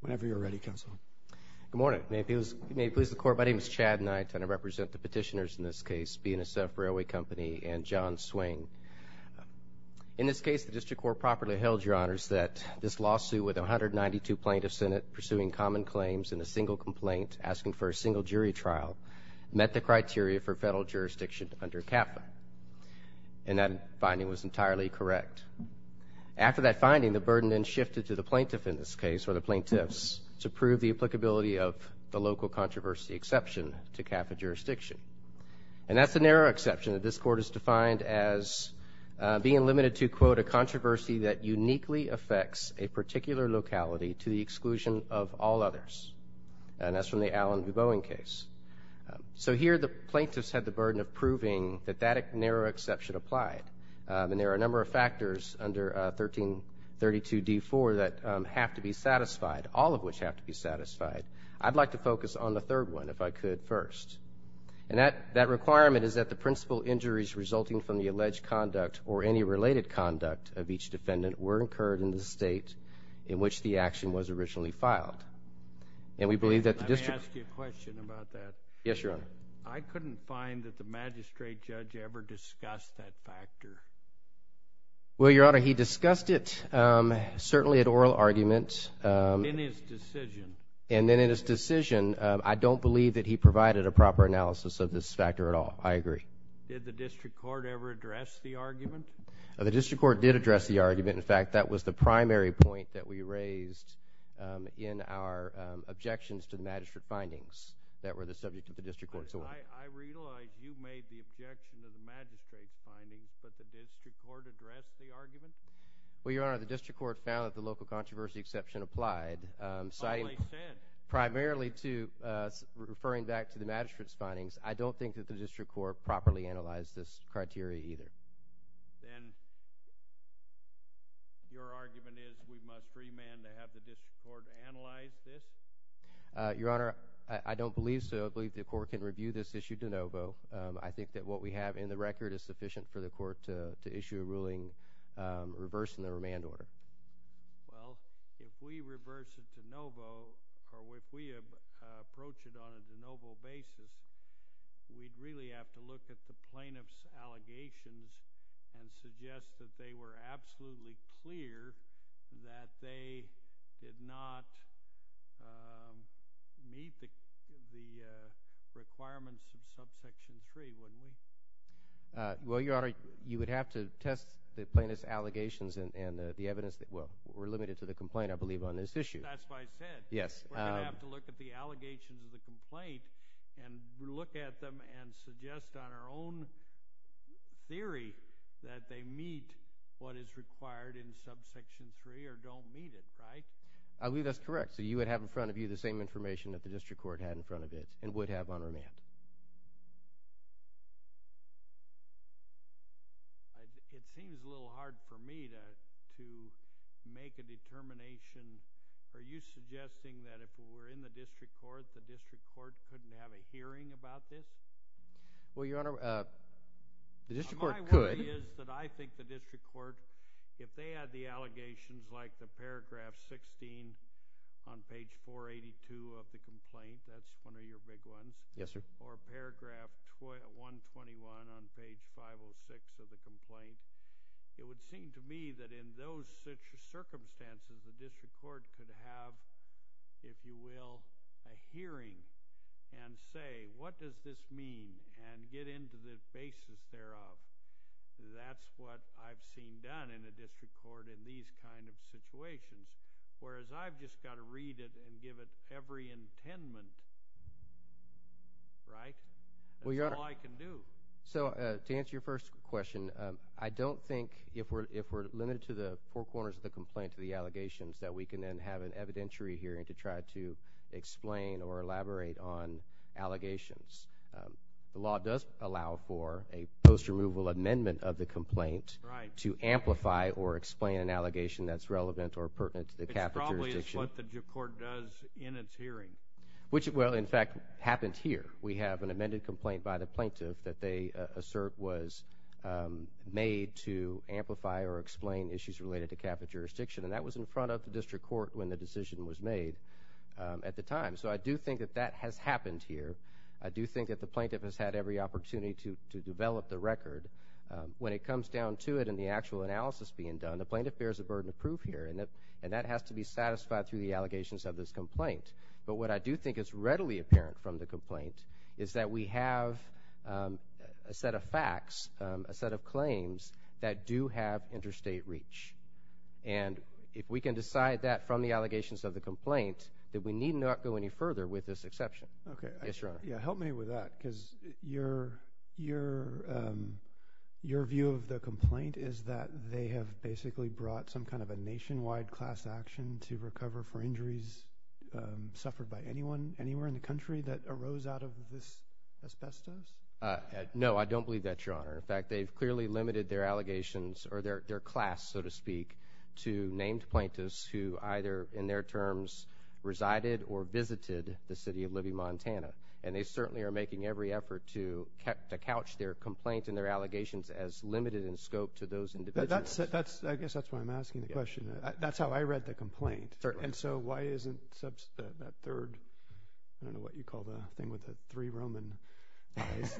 Whenever you're ready, Counsel. Good morning. May it please the Court, my name is Chad Knight, and I represent the petitioners in this case, BNSF Railway Company and John Swing. In this case, the District Court properly held, Your Honors, that this lawsuit with 192 plaintiffs in it, pursuing common claims in a single complaint, asking for a single jury trial, met the criteria for federal jurisdiction under CAPA. And that finding was entirely correct. After that finding, the burden then shifted to the plaintiff in this case, or the plaintiffs, to prove the applicability of the local controversy exception to CAPA jurisdiction. And that's the narrow exception that this Court has defined as being limited to, quote, a controversy that uniquely affects a particular locality to the exclusion of all others. And that's from the Allen v. Boeing case. So here the plaintiffs had the burden of proving that that narrow exception applied. And there are a number of factors under 1332d-4 that have to be satisfied, all of which have to be satisfied. I'd like to focus on the third one, if I could, first. And that requirement is that the principal injuries resulting from the alleged conduct or any related conduct of each defendant were incurred in the state in which the action was originally filed. And we believe that the district Let me ask you a question about that. Yes, Your Honor. I couldn't find that the magistrate judge ever discussed that factor. Well, Your Honor, he discussed it certainly at oral argument. In his decision. And then in his decision, I don't believe that he provided a proper analysis of this factor at all. I agree. Did the district court ever address the argument? The district court did address the argument. In fact, that was the primary point that we raised in our objections to the magistrate findings that were the subject of the district court's oral argument. I realize you made the objection to the magistrate's findings, but the district court addressed the argument? Well, Your Honor, the district court found that the local controversy exception applied. Finally said. Primarily referring back to the magistrate's findings, I don't think that the district court properly analyzed this criteria either. Then your argument is we must remand to have the district court analyze this? Your Honor, I don't believe so. I believe the court can review this issue de novo. I think that what we have in the record is sufficient for the court to issue a ruling reversing the remand order. Well, if we reverse it de novo or if we approach it on a de novo basis, we'd really have to look at the plaintiff's allegations and suggest that they were absolutely clear that they did not meet the requirements of subsection 3, wouldn't we? Well, Your Honor, you would have to test the plaintiff's allegations and the evidence. We're limited to the complaint, I believe, on this issue. That's why I said we're going to have to look at the allegations of the complaint and look at them and suggest on our own theory that they meet what is required in subsection 3 or don't meet it, right? I believe that's correct. So you would have in front of you the same information that the district court had in front of it and would have on remand. It seems a little hard for me to make a determination. Are you suggesting that if we were in the district court, the district court couldn't have a hearing about this? Well, Your Honor, the district court could. My worry is that I think the district court, if they had the allegations like the paragraph 16 on page 482 of the complaint, that's one of your big ones, or paragraph 121 on page 506 of the complaint, it would seem to me that in those circumstances, the district court could have, if you will, a hearing and say, what does this mean and get into the basis thereof. That's what I've seen done in a district court in these kind of situations, whereas I've just got to read it and give it every intendment, right? That's all I can do. So to answer your first question, I don't think if we're limited to the four corners of the complaint, to the allegations, that we can then have an evidentiary hearing to try to explain or elaborate on allegations. The law does allow for a post-removal amendment of the complaint to amplify or explain an allegation that's relevant or pertinent to the capital jurisdiction. It probably is what the court does in its hearing. Which, well, in fact, happened here. We have an amended complaint by the plaintiff that they assert was made to amplify or explain issues related to capital jurisdiction, and that was in front of the district court when the decision was made at the time. So I do think that that has happened here. I do think that the plaintiff has had every opportunity to develop the record. When it comes down to it and the actual analysis being done, the plaintiff bears a burden of proof here, and that has to be satisfied through the allegations of this complaint. But what I do think is readily apparent from the complaint is that we have a set of facts, a set of claims that do have interstate reach. And if we can decide that from the allegations of the complaint, then we need not go any further with this exception. Yes, Your Honor. Yeah, help me with that because your view of the complaint is that they have basically brought some kind of a nationwide class action to recover for injuries suffered by anyone anywhere in the country that arose out of this asbestos? No, I don't believe that, Your Honor. In fact, they've clearly limited their allegations or their class, so to speak, to named plaintiffs who either in their terms resided or visited the city of Libby, Montana. And they certainly are making every effort to couch their complaint and their allegations as limited in scope to those individuals. I guess that's why I'm asking the question. That's how I read the complaint. And so why isn't that third, I don't know what you call the thing with the three Roman eyes,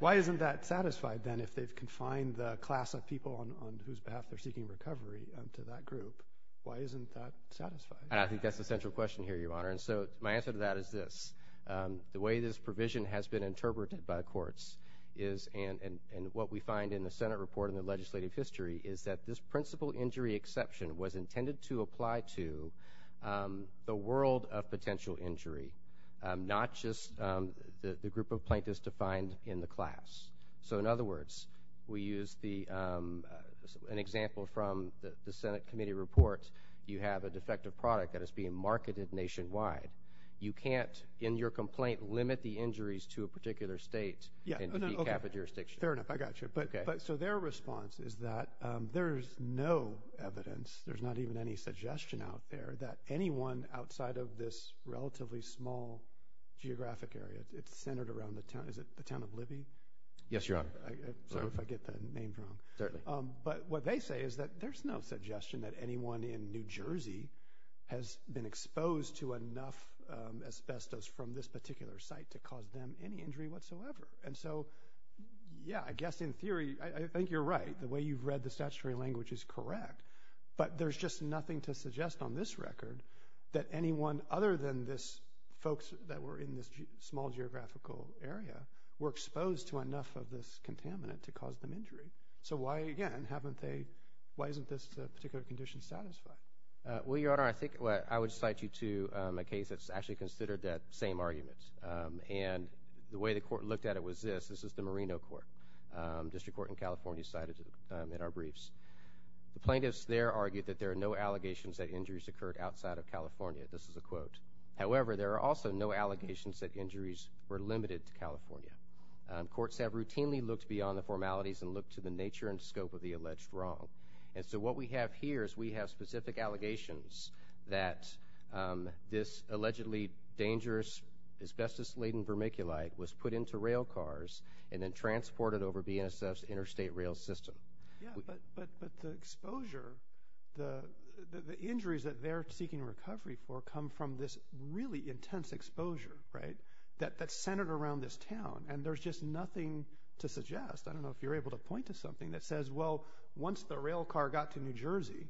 why isn't that satisfied then if they've confined the class of people on whose behalf they're seeking recovery to that group? Why isn't that satisfied? I think that's the central question here, Your Honor. And so my answer to that is this. The way this provision has been interpreted by courts is, and what we find in the Senate report in the legislative history, is that this principal injury exception was intended to apply to the world of potential injury, not just the group of plaintiffs defined in the class. So, in other words, we use an example from the Senate committee report. You have a defective product that is being marketed nationwide. You can't, in your complaint, limit the injuries to a particular state Fair enough, I got you. So their response is that there is no evidence, there's not even any suggestion out there, that anyone outside of this relatively small geographic area, it's centered around the town, is it the town of Libby? Yes, Your Honor. Sorry if I get the name wrong. Certainly. But what they say is that there's no suggestion that anyone in New Jersey has been exposed to enough asbestos from this particular site to cause them any injury whatsoever. And so, yeah, I guess in theory, I think you're right. The way you've read the statutory language is correct. But there's just nothing to suggest on this record that anyone other than this folks that were in this small geographical area were exposed to enough of this contaminant to cause them injury. So why, again, haven't they, why isn't this particular condition satisfied? Well, Your Honor, I think I would cite you to a case that's actually considered that same argument. And the way the court looked at it was this. This is the Moreno Court, District Court in California cited in our briefs. The plaintiffs there argued that there are no allegations that injuries occurred outside of California. This is a quote. However, there are also no allegations that injuries were limited to California. Courts have routinely looked beyond the formalities and looked to the nature and scope of the alleged wrong. And so what we have here is we have specific allegations that this allegedly dangerous asbestos-laden vermiculite was put into rail cars and then transported over BNSF's interstate rail system. Yeah, but the exposure, the injuries that they're seeking recovery for come from this really intense exposure, right, that's centered around this town. And there's just nothing to suggest. I don't know if you're able to point to something that says, well, once the rail car got to New Jersey,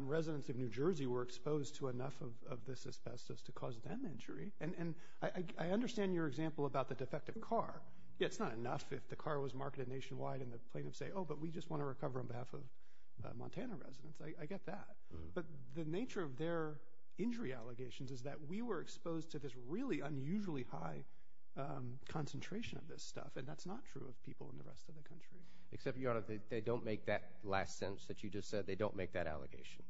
residents of New Jersey were exposed to enough of this asbestos to cause them injury. And I understand your example about the defective car. Yeah, it's not enough if the car was marketed nationwide and the plaintiffs say, oh, but we just want to recover on behalf of Montana residents. I get that. But the nature of their injury allegations is that we were exposed to this really unusually high concentration of this stuff. And that's not true of people in the rest of the country. Except, Your Honor, they don't make that last sentence that you just said. They don't make that allegation.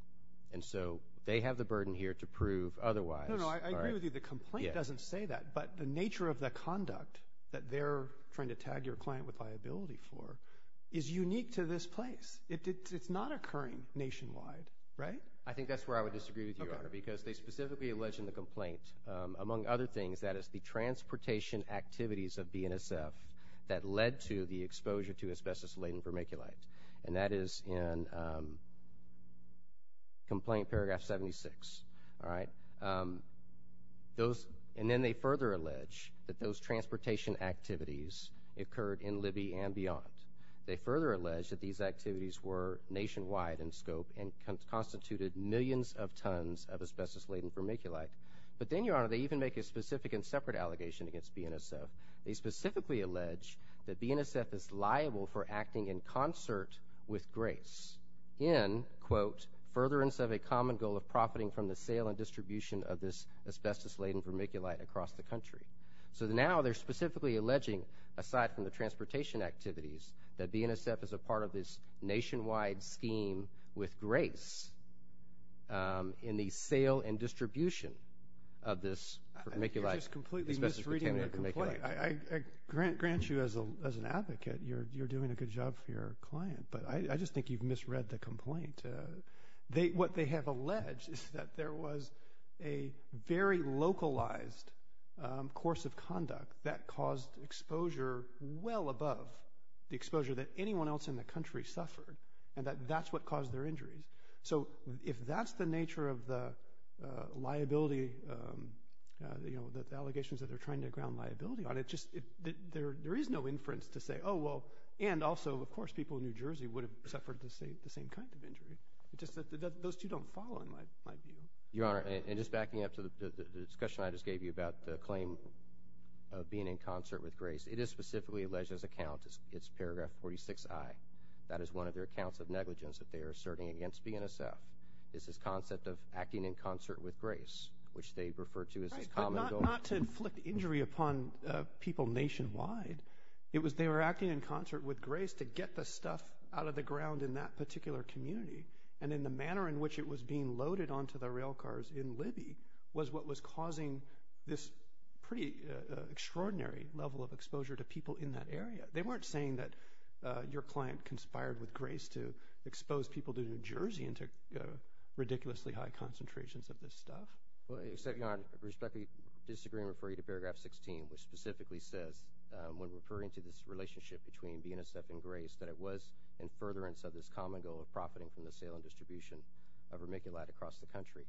And so they have the burden here to prove otherwise. No, no, I agree with you. The complaint doesn't say that. But the nature of the conduct that they're trying to tag your client with liability for is unique to this place. It's not occurring nationwide, right? I think that's where I would disagree with you, Your Honor, because they specifically allege in the complaint, among other things, that it's the transportation activities of BNSF that led to the exposure to asbestos-laden vermiculite. And that is in Complaint Paragraph 76. And then they further allege that those transportation activities occurred in Libby and beyond. They further allege that these activities were nationwide in scope and constituted millions of tons of asbestos-laden vermiculite. But then, Your Honor, they even make a specific and separate allegation against BNSF. They specifically allege that BNSF is liable for acting in concert with Grace in, quote, furtherance of a common goal of profiting from the sale and distribution of this asbestos-laden vermiculite across the country. So now they're specifically alleging, aside from the transportation activities, that BNSF is a part of this nationwide scheme with Grace in the sale and distribution of this vermiculite. You just completely misread the complaint. I grant you as an advocate you're doing a good job for your client, but I just think you've misread the complaint. What they have alleged is that there was a very localized course of conduct that caused exposure well above the exposure that anyone else in the country suffered, and that that's what caused their injuries. So if that's the nature of the liability, the allegations that they're trying to ground liability on, there is no inference to say, oh, well, and also, of course, people in New Jersey would have suffered the same kind of injury. It's just that those two don't follow in my view. Your Honor, and just backing up to the discussion I just gave you about the claim of being in concert with Grace, it is specifically alleged as a count. It's paragraph 46I. That is one of their accounts of negligence that they are asserting against BNSF, is this concept of acting in concert with Grace, which they refer to as this common goal. Well, not to inflict injury upon people nationwide. They were acting in concert with Grace to get the stuff out of the ground in that particular community, and in the manner in which it was being loaded onto the railcars in Libby was what was causing this pretty extraordinary level of exposure to people in that area. They weren't saying that your client conspired with Grace to expose people to New Jersey and to ridiculously high concentrations of this stuff. Well, except your Honor, I respectfully disagree and refer you to paragraph 16, which specifically says when referring to this relationship between BNSF and Grace that it was in furtherance of this common goal of profiting from the sale and distribution of vermiculite across the country.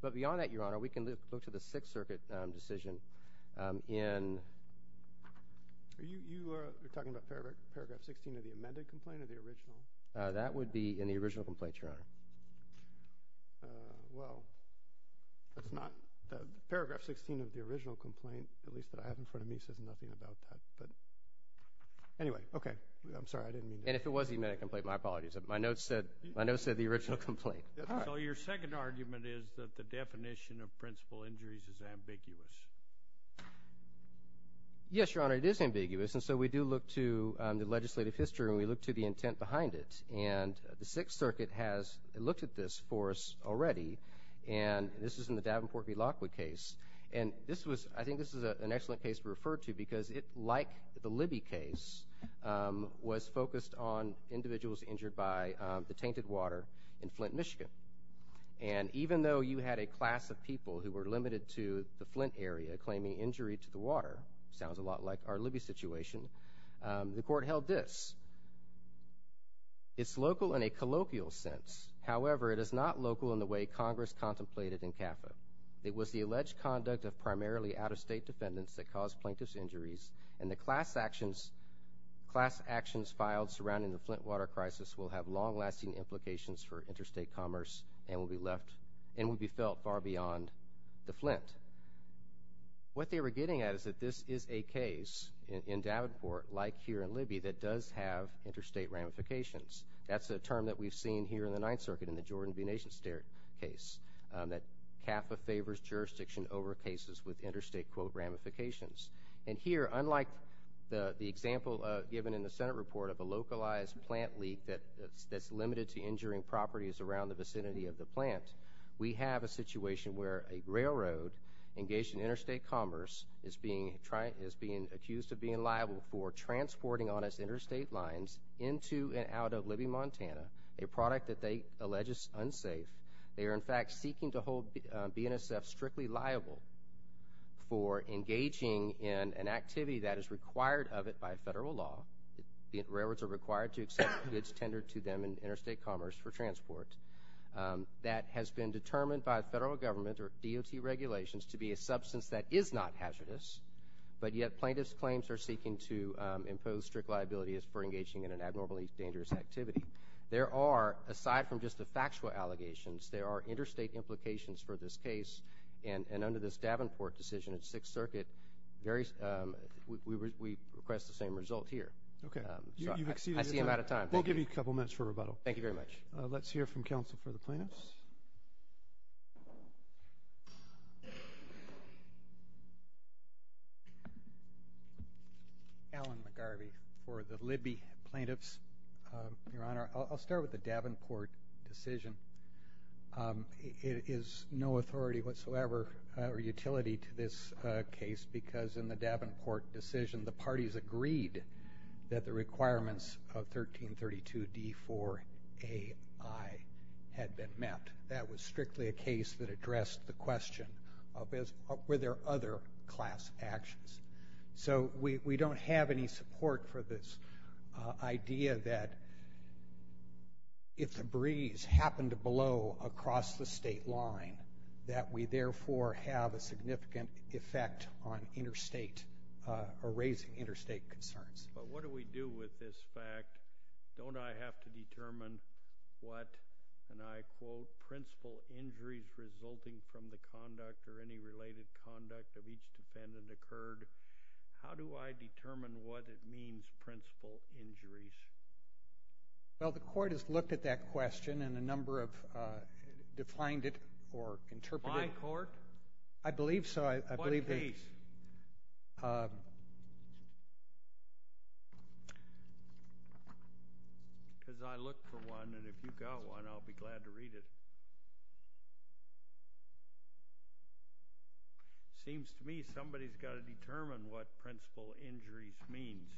But beyond that, your Honor, we can look to the Sixth Circuit decision in— Are you talking about paragraph 16 of the amended complaint or the original? That would be in the original complaint, your Honor. Well, that's not—paragraph 16 of the original complaint, at least that I have in front of me, says nothing about that. But anyway, okay. I'm sorry. I didn't mean to— And if it was the amended complaint, my apologies. My notes said the original complaint. So your second argument is that the definition of principal injuries is ambiguous. Yes, your Honor, it is ambiguous. And so we do look to the legislative history and we look to the intent behind it. And the Sixth Circuit has looked at this for us already, and this is in the Davenport v. Lockwood case. And this was—I think this is an excellent case to refer to because it, like the Libby case, was focused on individuals injured by the tainted water in Flint, Michigan. And even though you had a class of people who were limited to the Flint area claiming injury to the water, sounds a lot like our Libby situation, the court held this. It's local in a colloquial sense. However, it is not local in the way Congress contemplated in CAFA. It was the alleged conduct of primarily out-of-state defendants that caused plaintiff's injuries, and the class actions filed surrounding the Flint water crisis will have long-lasting implications for interstate commerce and will be left—and will be felt far beyond the Flint. What they were getting at is that this is a case in Davenport, like here in Libby, that does have interstate ramifications. That's a term that we've seen here in the Ninth Circuit in the Jordan v. Nation State case, that CAFA favors jurisdiction over cases with interstate, quote, ramifications. And here, unlike the example given in the Senate report of a localized plant leak that's limited to injuring properties around the vicinity of the plant, we have a situation where a railroad engaged in interstate commerce is being accused of being liable for transporting on its interstate lines into and out of Libby, Montana, a product that they allege is unsafe. They are, in fact, seeking to hold BNSF strictly liable for engaging in an activity that is required of it by federal law. Railroads are required to accept goods tendered to them in interstate commerce for transport. That has been determined by federal government or DOT regulations to be a substance that is not hazardous, but yet plaintiffs' claims are seeking to impose strict liabilities for engaging in an abnormally dangerous activity. There are, aside from just the factual allegations, there are interstate implications for this case, and under this Davenport decision in the Sixth Circuit, we request the same result here. Okay. I see I'm out of time. We'll give you a couple minutes for rebuttal. Thank you very much. Let's hear from counsel for the plaintiffs. Alan McGarvey for the Libby plaintiffs. Your Honor, I'll start with the Davenport decision. It is no authority whatsoever or utility to this case because in the Davenport decision, the parties agreed that the requirements of 1332D4AI had been met. That was strictly a case that addressed the question, were there other class actions? So we don't have any support for this idea that if the breeze happened to blow across the state line, that we therefore have a significant effect on raising interstate concerns. But what do we do with this fact? Don't I have to determine what, and I quote, principal injuries resulting from the conduct or any related conduct of each defendant occurred? How do I determine what it means, principal injuries? Well, the court has looked at that question and a number of defined it or interpreted it. My court? I believe so. What case? Because I looked for one, and if you've got one, I'll be glad to read it. Seems to me somebody's got to determine what principal injuries means.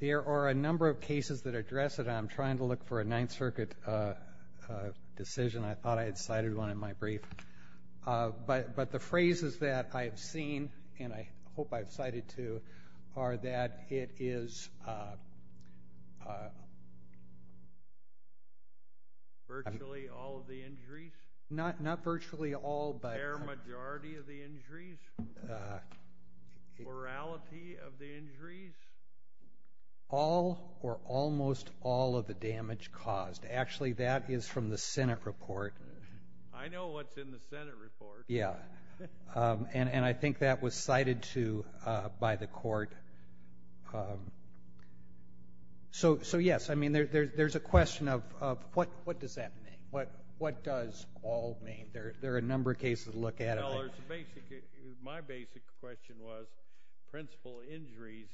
There are a number of cases that address it. I'm trying to look for a Ninth Circuit decision. I thought I had cited one in my brief. But the phrases that I've seen, and I hope I've cited two, are that it is. Virtually all of the injuries? Not virtually all, but. A fair majority of the injuries? Plurality of the injuries? All or almost all of the damage caused. Actually, that is from the Senate report. I know what's in the Senate report. Yeah, and I think that was cited by the court. So, yes, I mean, there's a question of what does that mean? What does all mean? There are a number of cases to look at. My basic question was principal injuries,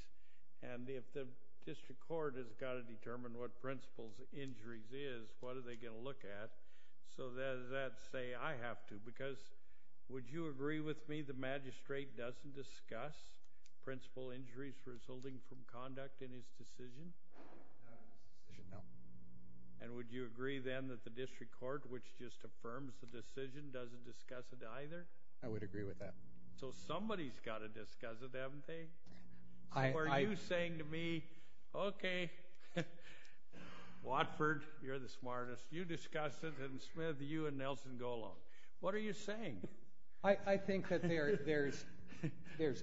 and if the district court has got to determine what principal injuries is, what are they going to look at? So does that say I have to? Because would you agree with me the magistrate doesn't discuss principal injuries resulting from conduct in his decision? No. And would you agree then that the district court, which just affirms the decision, doesn't discuss it either? I would agree with that. So somebody's got to discuss it, haven't they? So are you saying to me, okay, Watford, you're the smartest, you discuss it, and Smith, you and Nelson go along. What are you saying? I think that there's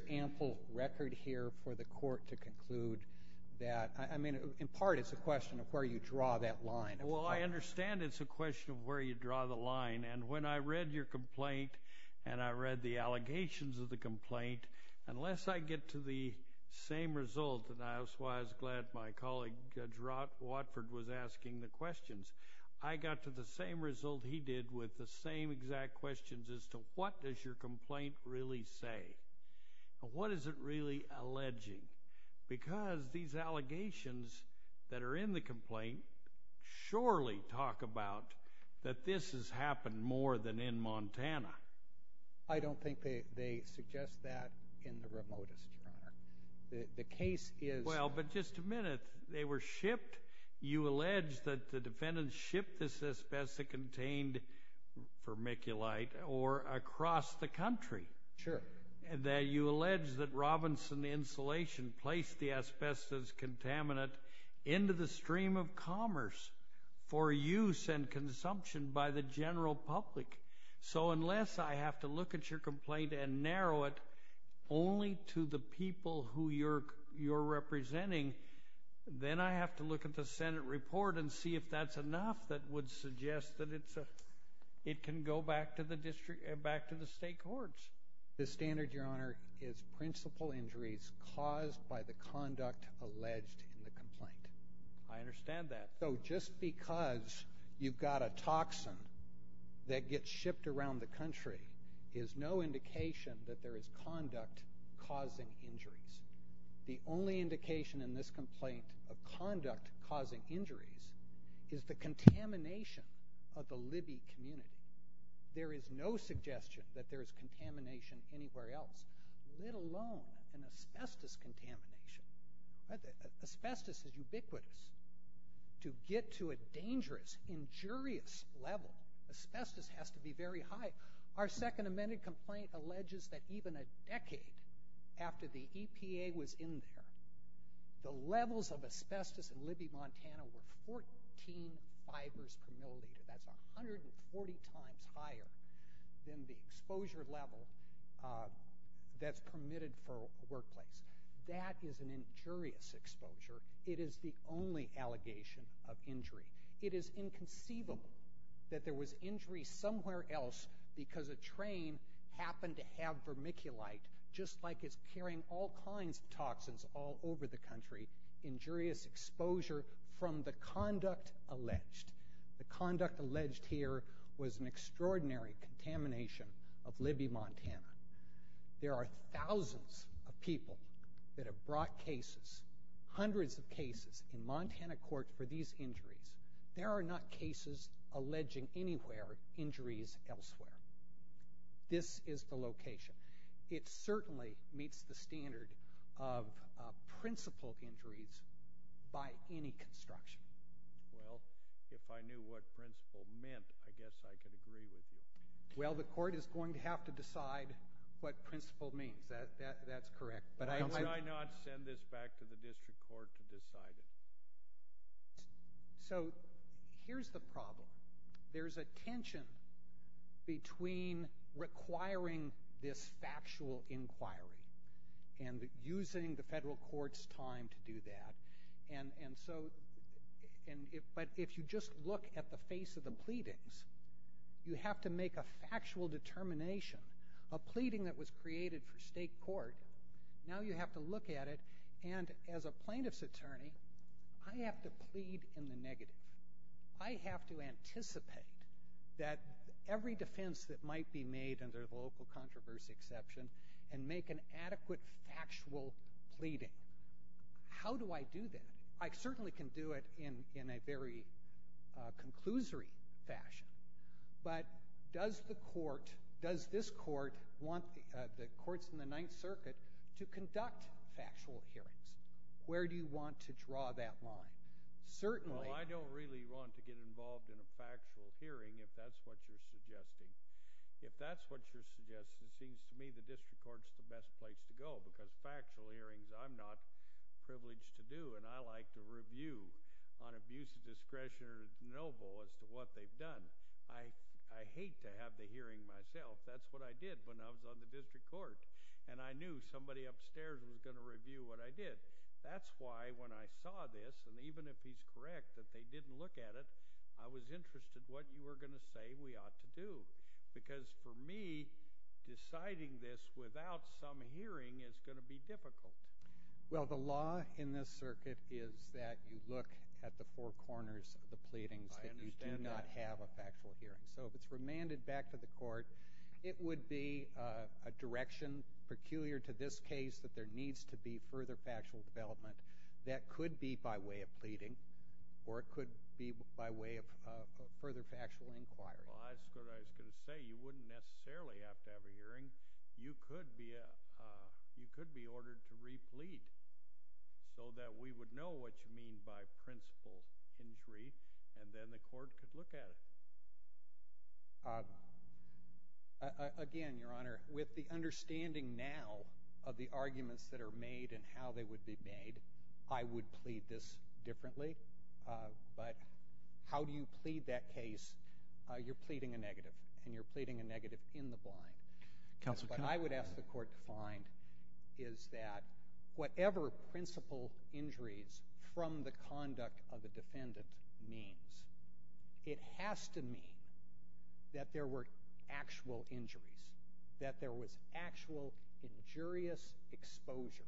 ample record here for the court to conclude that. I mean, in part, it's a question of where you draw that line. Well, I understand it's a question of where you draw the line. And when I read your complaint and I read the allegations of the complaint, unless I get to the same result, and I was glad my colleague Judge Watford was asking the questions, I got to the same result he did with the same exact questions as to what does your complaint really say. What is it really alleging? Because these allegations that are in the complaint surely talk about that this has happened more than in Montana. I don't think they suggest that in the remotest, Your Honor. The case is— Well, but just a minute. They were shipped. You allege that the defendants shipped this asbestos-contained vermiculite across the country. Sure. You allege that Robinson Insulation placed the asbestos contaminant into the stream of commerce for use and consumption by the general public. So unless I have to look at your complaint and narrow it only to the people who you're representing, then I have to look at the Senate report and see if that's enough that would suggest that it can go back to the state courts. The standard, Your Honor, is principal injuries caused by the conduct alleged in the complaint. I understand that. So just because you've got a toxin that gets shipped around the country is no indication that there is conduct causing injuries. The only indication in this complaint of conduct causing injuries is the contamination of the Libby community. There is no suggestion that there is contamination anywhere else, let alone an asbestos contamination. Asbestos is ubiquitous. To get to a dangerous, injurious level, asbestos has to be very high. Our second amended complaint alleges that even a decade after the EPA was in there, the levels of asbestos in Libby, Montana were 14 fibers per milliliter. That's 140 times higher than the exposure level that's permitted for a workplace. That is an injurious exposure. It is the only allegation of injury. It is inconceivable that there was injury somewhere else because a train happened to have vermiculite, just like it's carrying all kinds of toxins all over the country, injurious exposure from the conduct alleged. The conduct alleged here was an extraordinary contamination of Libby, Montana. There are thousands of people that have brought cases, hundreds of cases, in Montana court for these injuries. There are not cases alleging anywhere injuries elsewhere. This is the location. It certainly meets the standard of principled injuries by any construction. Well, if I knew what principled meant, I guess I could agree with you. Well, the court is going to have to decide what principled means. That's correct. Why did I not send this back to the district court to decide it? So here's the problem. There's a tension between requiring this factual inquiry and using the federal court's time to do that. But if you just look at the face of the pleadings, you have to make a factual determination. A pleading that was created for state court, now you have to look at it. And as a plaintiff's attorney, I have to plead in the negative. I have to anticipate that every defense that might be made under the local controversy exception and make an adequate factual pleading. How do I do that? I certainly can do it in a very conclusory fashion. But does the court, does this court want the courts in the Ninth Circuit to conduct factual hearings? Where do you want to draw that line? Certainly. Well, I don't really want to get involved in a factual hearing, if that's what you're suggesting. If that's what you're suggesting, it seems to me the district court is the best place to go because factual hearings I'm not privileged to do, and I like to review on abuse of discretion or disnoval as to what they've done. I hate to have the hearing myself. That's what I did when I was on the district court, and I knew somebody upstairs was going to review what I did. That's why when I saw this, and even if he's correct that they didn't look at it, I was interested what you were going to say we ought to do because for me deciding this without some hearing is going to be difficult. Well, the law in this circuit is that you look at the four corners of the pleadings that you do not have a factual hearing. So if it's remanded back to the court, it would be a direction peculiar to this case that there needs to be further factual development that could be by way of pleading or it could be by way of further factual inquiry. Well, that's what I was going to say. You wouldn't necessarily have to have a hearing. You could be ordered to re-plead so that we would know what you mean by principal injury, and then the court could look at it. Again, Your Honor, with the understanding now of the arguments that are made and how they would be made, I would plead this differently. But how do you plead that case? You're pleading a negative, and you're pleading a negative in the blind. But I would ask the court to find is that whatever principal injuries from the conduct of the defendant means. It has to mean that there were actual injuries, that there was actual injurious exposure.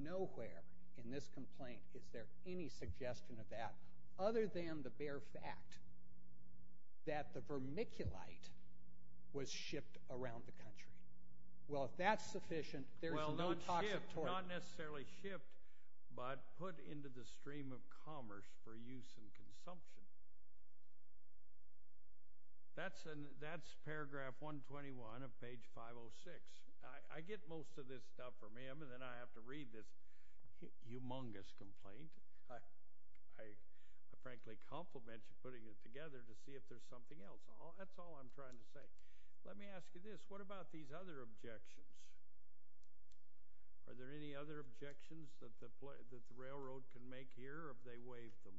Nowhere in this complaint is there any suggestion of that other than the bare fact that the vermiculite was shipped around the country. Well, if that's sufficient, there's no toxic torture. Not necessarily shipped, but put into the stream of commerce for use in consumption. That's paragraph 121 of page 506. I get most of this stuff from him, and then I have to read this humongous complaint. I frankly compliment you putting it together to see if there's something else. That's all I'm trying to say. Let me ask you this. What about these other objections? Are there any other objections that the railroad can make here, or have they waived them?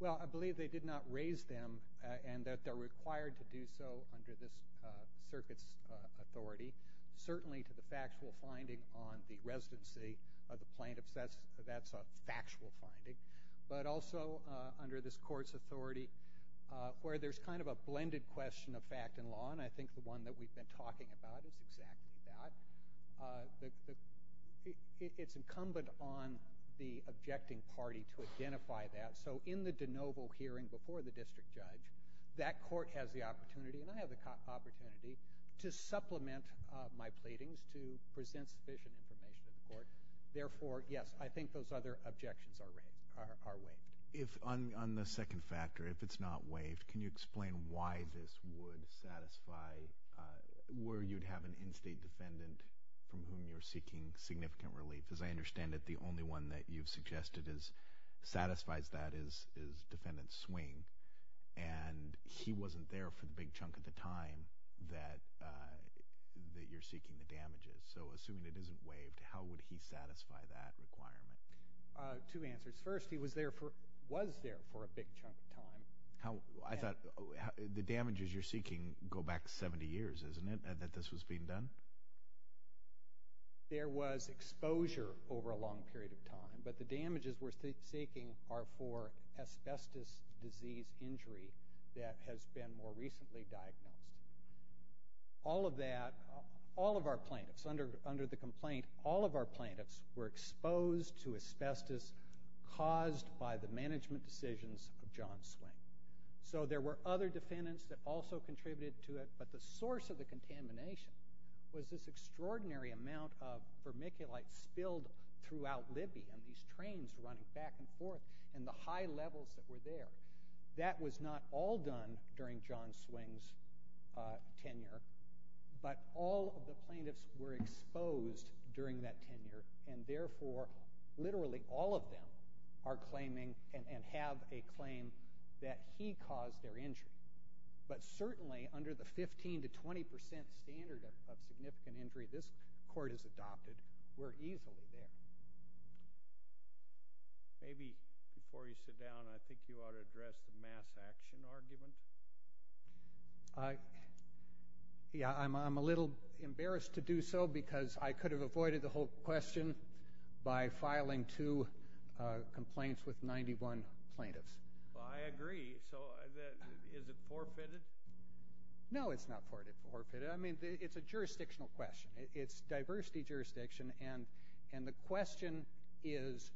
Well, I believe they did not raise them and that they're required to do so under this circuit's authority. Certainly to the factual finding on the residency of the plaintiffs, that's a factual finding. But also under this court's authority where there's kind of a blended question of fact and law, and I think the one that we've been talking about is exactly that. It's incumbent on the objecting party to identify that. So in the de novo hearing before the district judge, that court has the opportunity, and I have the opportunity to supplement my pleadings to present sufficient information to the court. Therefore, yes, I think those other objections are waived. On the second factor, if it's not waived, can you explain why this would satisfy where you'd have an in-state defendant from whom you're seeking significant relief? As I understand it, the only one that you've suggested satisfies that is defendant Swing, and he wasn't there for the big chunk of the time that you're seeking the damages. So assuming it isn't waived, how would he satisfy that requirement? Two answers. First, he was there for a big chunk of time. I thought the damages you're seeking go back 70 years, isn't it, that this was being done? There was exposure over a long period of time, but the damages we're seeking are for asbestos disease injury that has been more recently diagnosed. All of that, all of our plaintiffs, under the complaint, all of our plaintiffs were exposed to asbestos caused by the management decisions of John Swing. So there were other defendants that also contributed to it, but the source of the contamination was this extraordinary amount of vermiculite spilled throughout Libya, and these trains running back and forth, and the high levels that were there. That was not all done during John Swing's tenure, but all of the plaintiffs were exposed during that tenure, and therefore literally all of them are claiming and have a claim that he caused their injury. But certainly under the 15 to 20 percent standard of significant injury this court has adopted, we're easily there. Maybe before you sit down, I think you ought to address the mass action argument. Yeah, I'm a little embarrassed to do so because I could have avoided the whole question by filing two complaints with 91 plaintiffs. Well, I agree. So is it forfeited? No, it's not forfeited. I mean, it's a jurisdictional question. It's diversity jurisdiction, and the question is,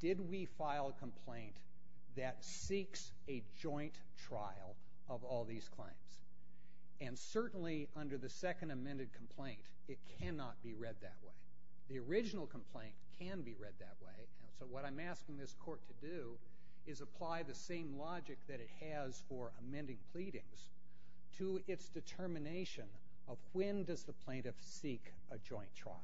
did we file a complaint that seeks a joint trial of all these claims? And certainly under the second amended complaint, it cannot be read that way. The original complaint can be read that way, and so what I'm asking this court to do is apply the same logic that it has for amending pleadings to its determination of when does the plaintiff seek a joint trial.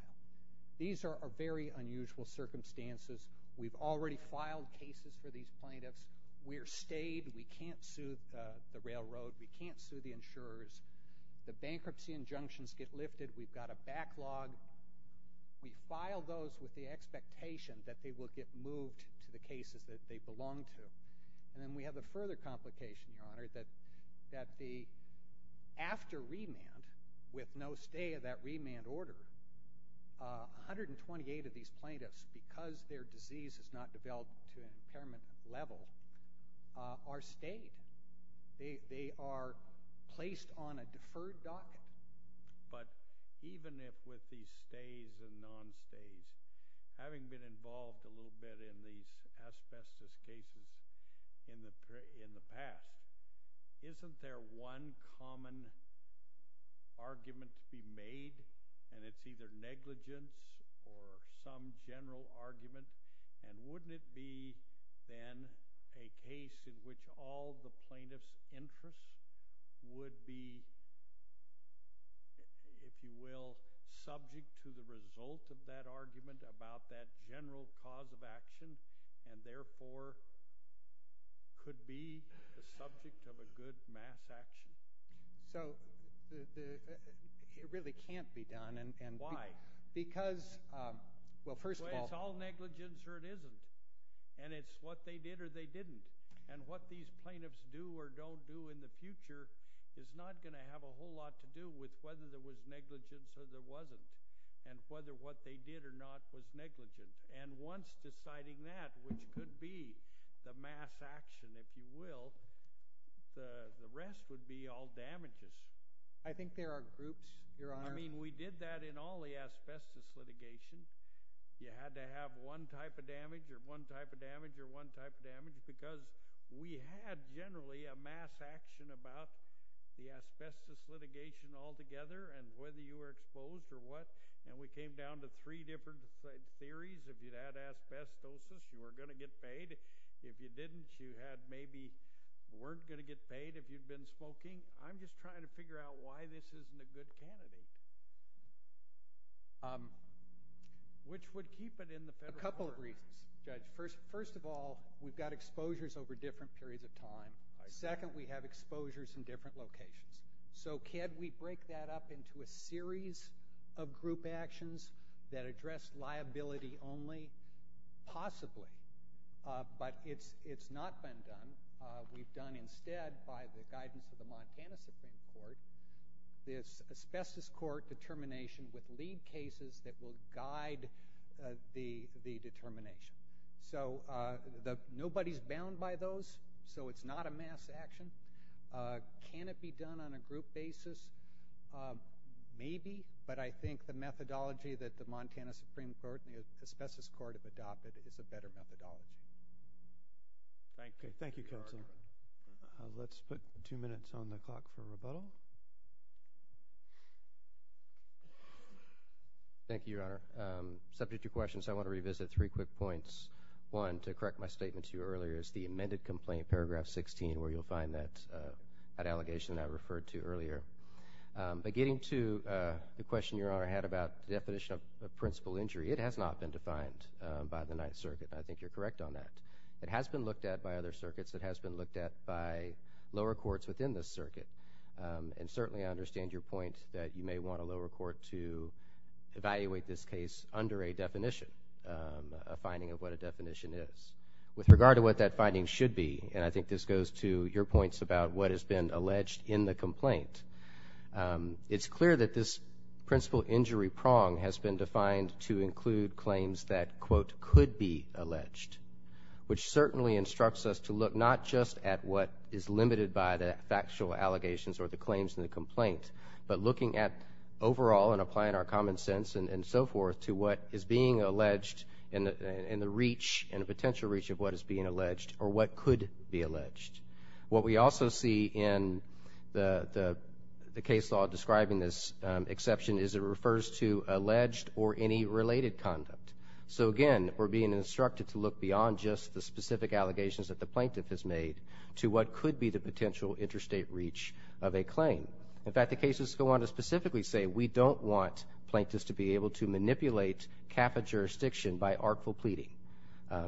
These are very unusual circumstances. We've already filed cases for these plaintiffs. We're stayed. We can't sue the railroad. We can't sue the insurers. The bankruptcy injunctions get lifted. We've got a backlog. We file those with the expectation that they will get moved to the cases that they belong to, and then we have a further complication, Your Honor, that after remand, with no stay of that remand order, 128 of these plaintiffs, because their disease has not developed to an impairment level, are stayed. They are placed on a deferred docket. But even if with these stays and non-stays, having been involved a little bit in these asbestos cases in the past, isn't there one common argument to be made, and it's either negligence or some general argument, and wouldn't it be then a case in which all the plaintiff's interests would be, if you will, subject to the result of that argument about that general cause of action and therefore could be the subject of a good mass action? So it really can't be done. Why? Because, well, first of all— Well, it's all negligence or it isn't, and it's what they did or they didn't, and what these plaintiffs do or don't do in the future is not going to have a whole lot to do with whether there was negligence or there wasn't and whether what they did or not was negligent. And once deciding that, which could be the mass action, if you will, the rest would be all damages. I think there are groups, Your Honor. I mean, we did that in all the asbestos litigation. You had to have one type of damage or one type of damage or one type of damage because we had generally a mass action about the asbestos litigation altogether and whether you were exposed or what, and we came down to three different theories. If you had asbestosis, you were going to get paid. If you didn't, you had maybe—weren't going to get paid if you'd been smoking. I'm just trying to figure out why this isn't a good candidate, which would keep it in the federal court. A couple of reasons, Judge. First of all, we've got exposures over different periods of time. Second, we have exposures in different locations. So can we break that up into a series of group actions that address liability only? Possibly, but it's not been done. We've done instead, by the guidance of the Montana Supreme Court, this asbestos court determination with lead cases that will guide the determination. So nobody's bound by those, so it's not a mass action. Can it be done on a group basis? Maybe, but I think the methodology that the Montana Supreme Court and the asbestos court have adopted is a better methodology. Thank you. Thank you, Counsel. Let's put two minutes on the clock for rebuttal. Thank you, Your Honor. Subject to questions, I want to revisit three quick points. One, to correct my statement to you earlier, is the amended complaint, paragraph 16, where you'll find that allegation that I referred to earlier. But getting to the question Your Honor had about the definition of principal injury, it has not been defined by the Ninth Circuit. I think you're correct on that. It has been looked at by other circuits. It has been looked at by lower courts within this circuit. And certainly, I understand your point that you may want a lower court to evaluate this case under a definition, a finding of what a definition is. With regard to what that finding should be, and I think this goes to your points about what has been alleged in the complaint, it's clear that this principal injury prong has been defined to include claims that, quote, could be alleged, which certainly instructs us to look not just at what is limited by the factual allegations or the claims in the complaint, but looking at overall and applying our common sense and so forth to what is being alleged and the reach and the potential reach of what is being alleged or what could be alleged. What we also see in the case law describing this exception is it refers to alleged or any related conduct. So again, we're being instructed to look beyond just the specific allegations that the plaintiff has made to what could be the potential interstate reach of a claim. In fact, the cases go on to specifically say we don't want plaintiffs to be able to manipulate CAFA jurisdiction by artful pleading.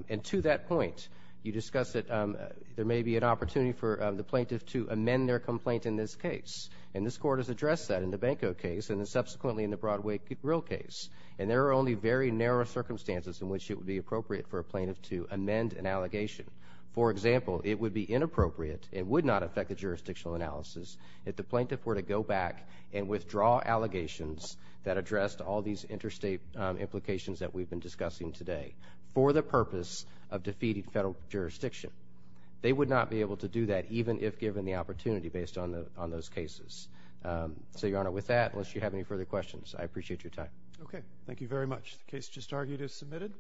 And to that point, you discussed that there may be an opportunity for the plaintiff to amend their complaint in this case, and this Court has addressed that in the Banco case and subsequently in the Broadway Grill case, and there are only very narrow circumstances in which it would be appropriate for a plaintiff to amend an allegation. For example, it would be inappropriate, it would not affect the jurisdictional analysis, if the plaintiff were to go back and withdraw allegations that addressed all these interstate implications that we've been discussing today for the purpose of defeating federal jurisdiction. They would not be able to do that even if given the opportunity based on those cases. So, Your Honor, with that, unless you have any further questions, I appreciate your time. Okay. Thank you very much. The case just argued is submitted.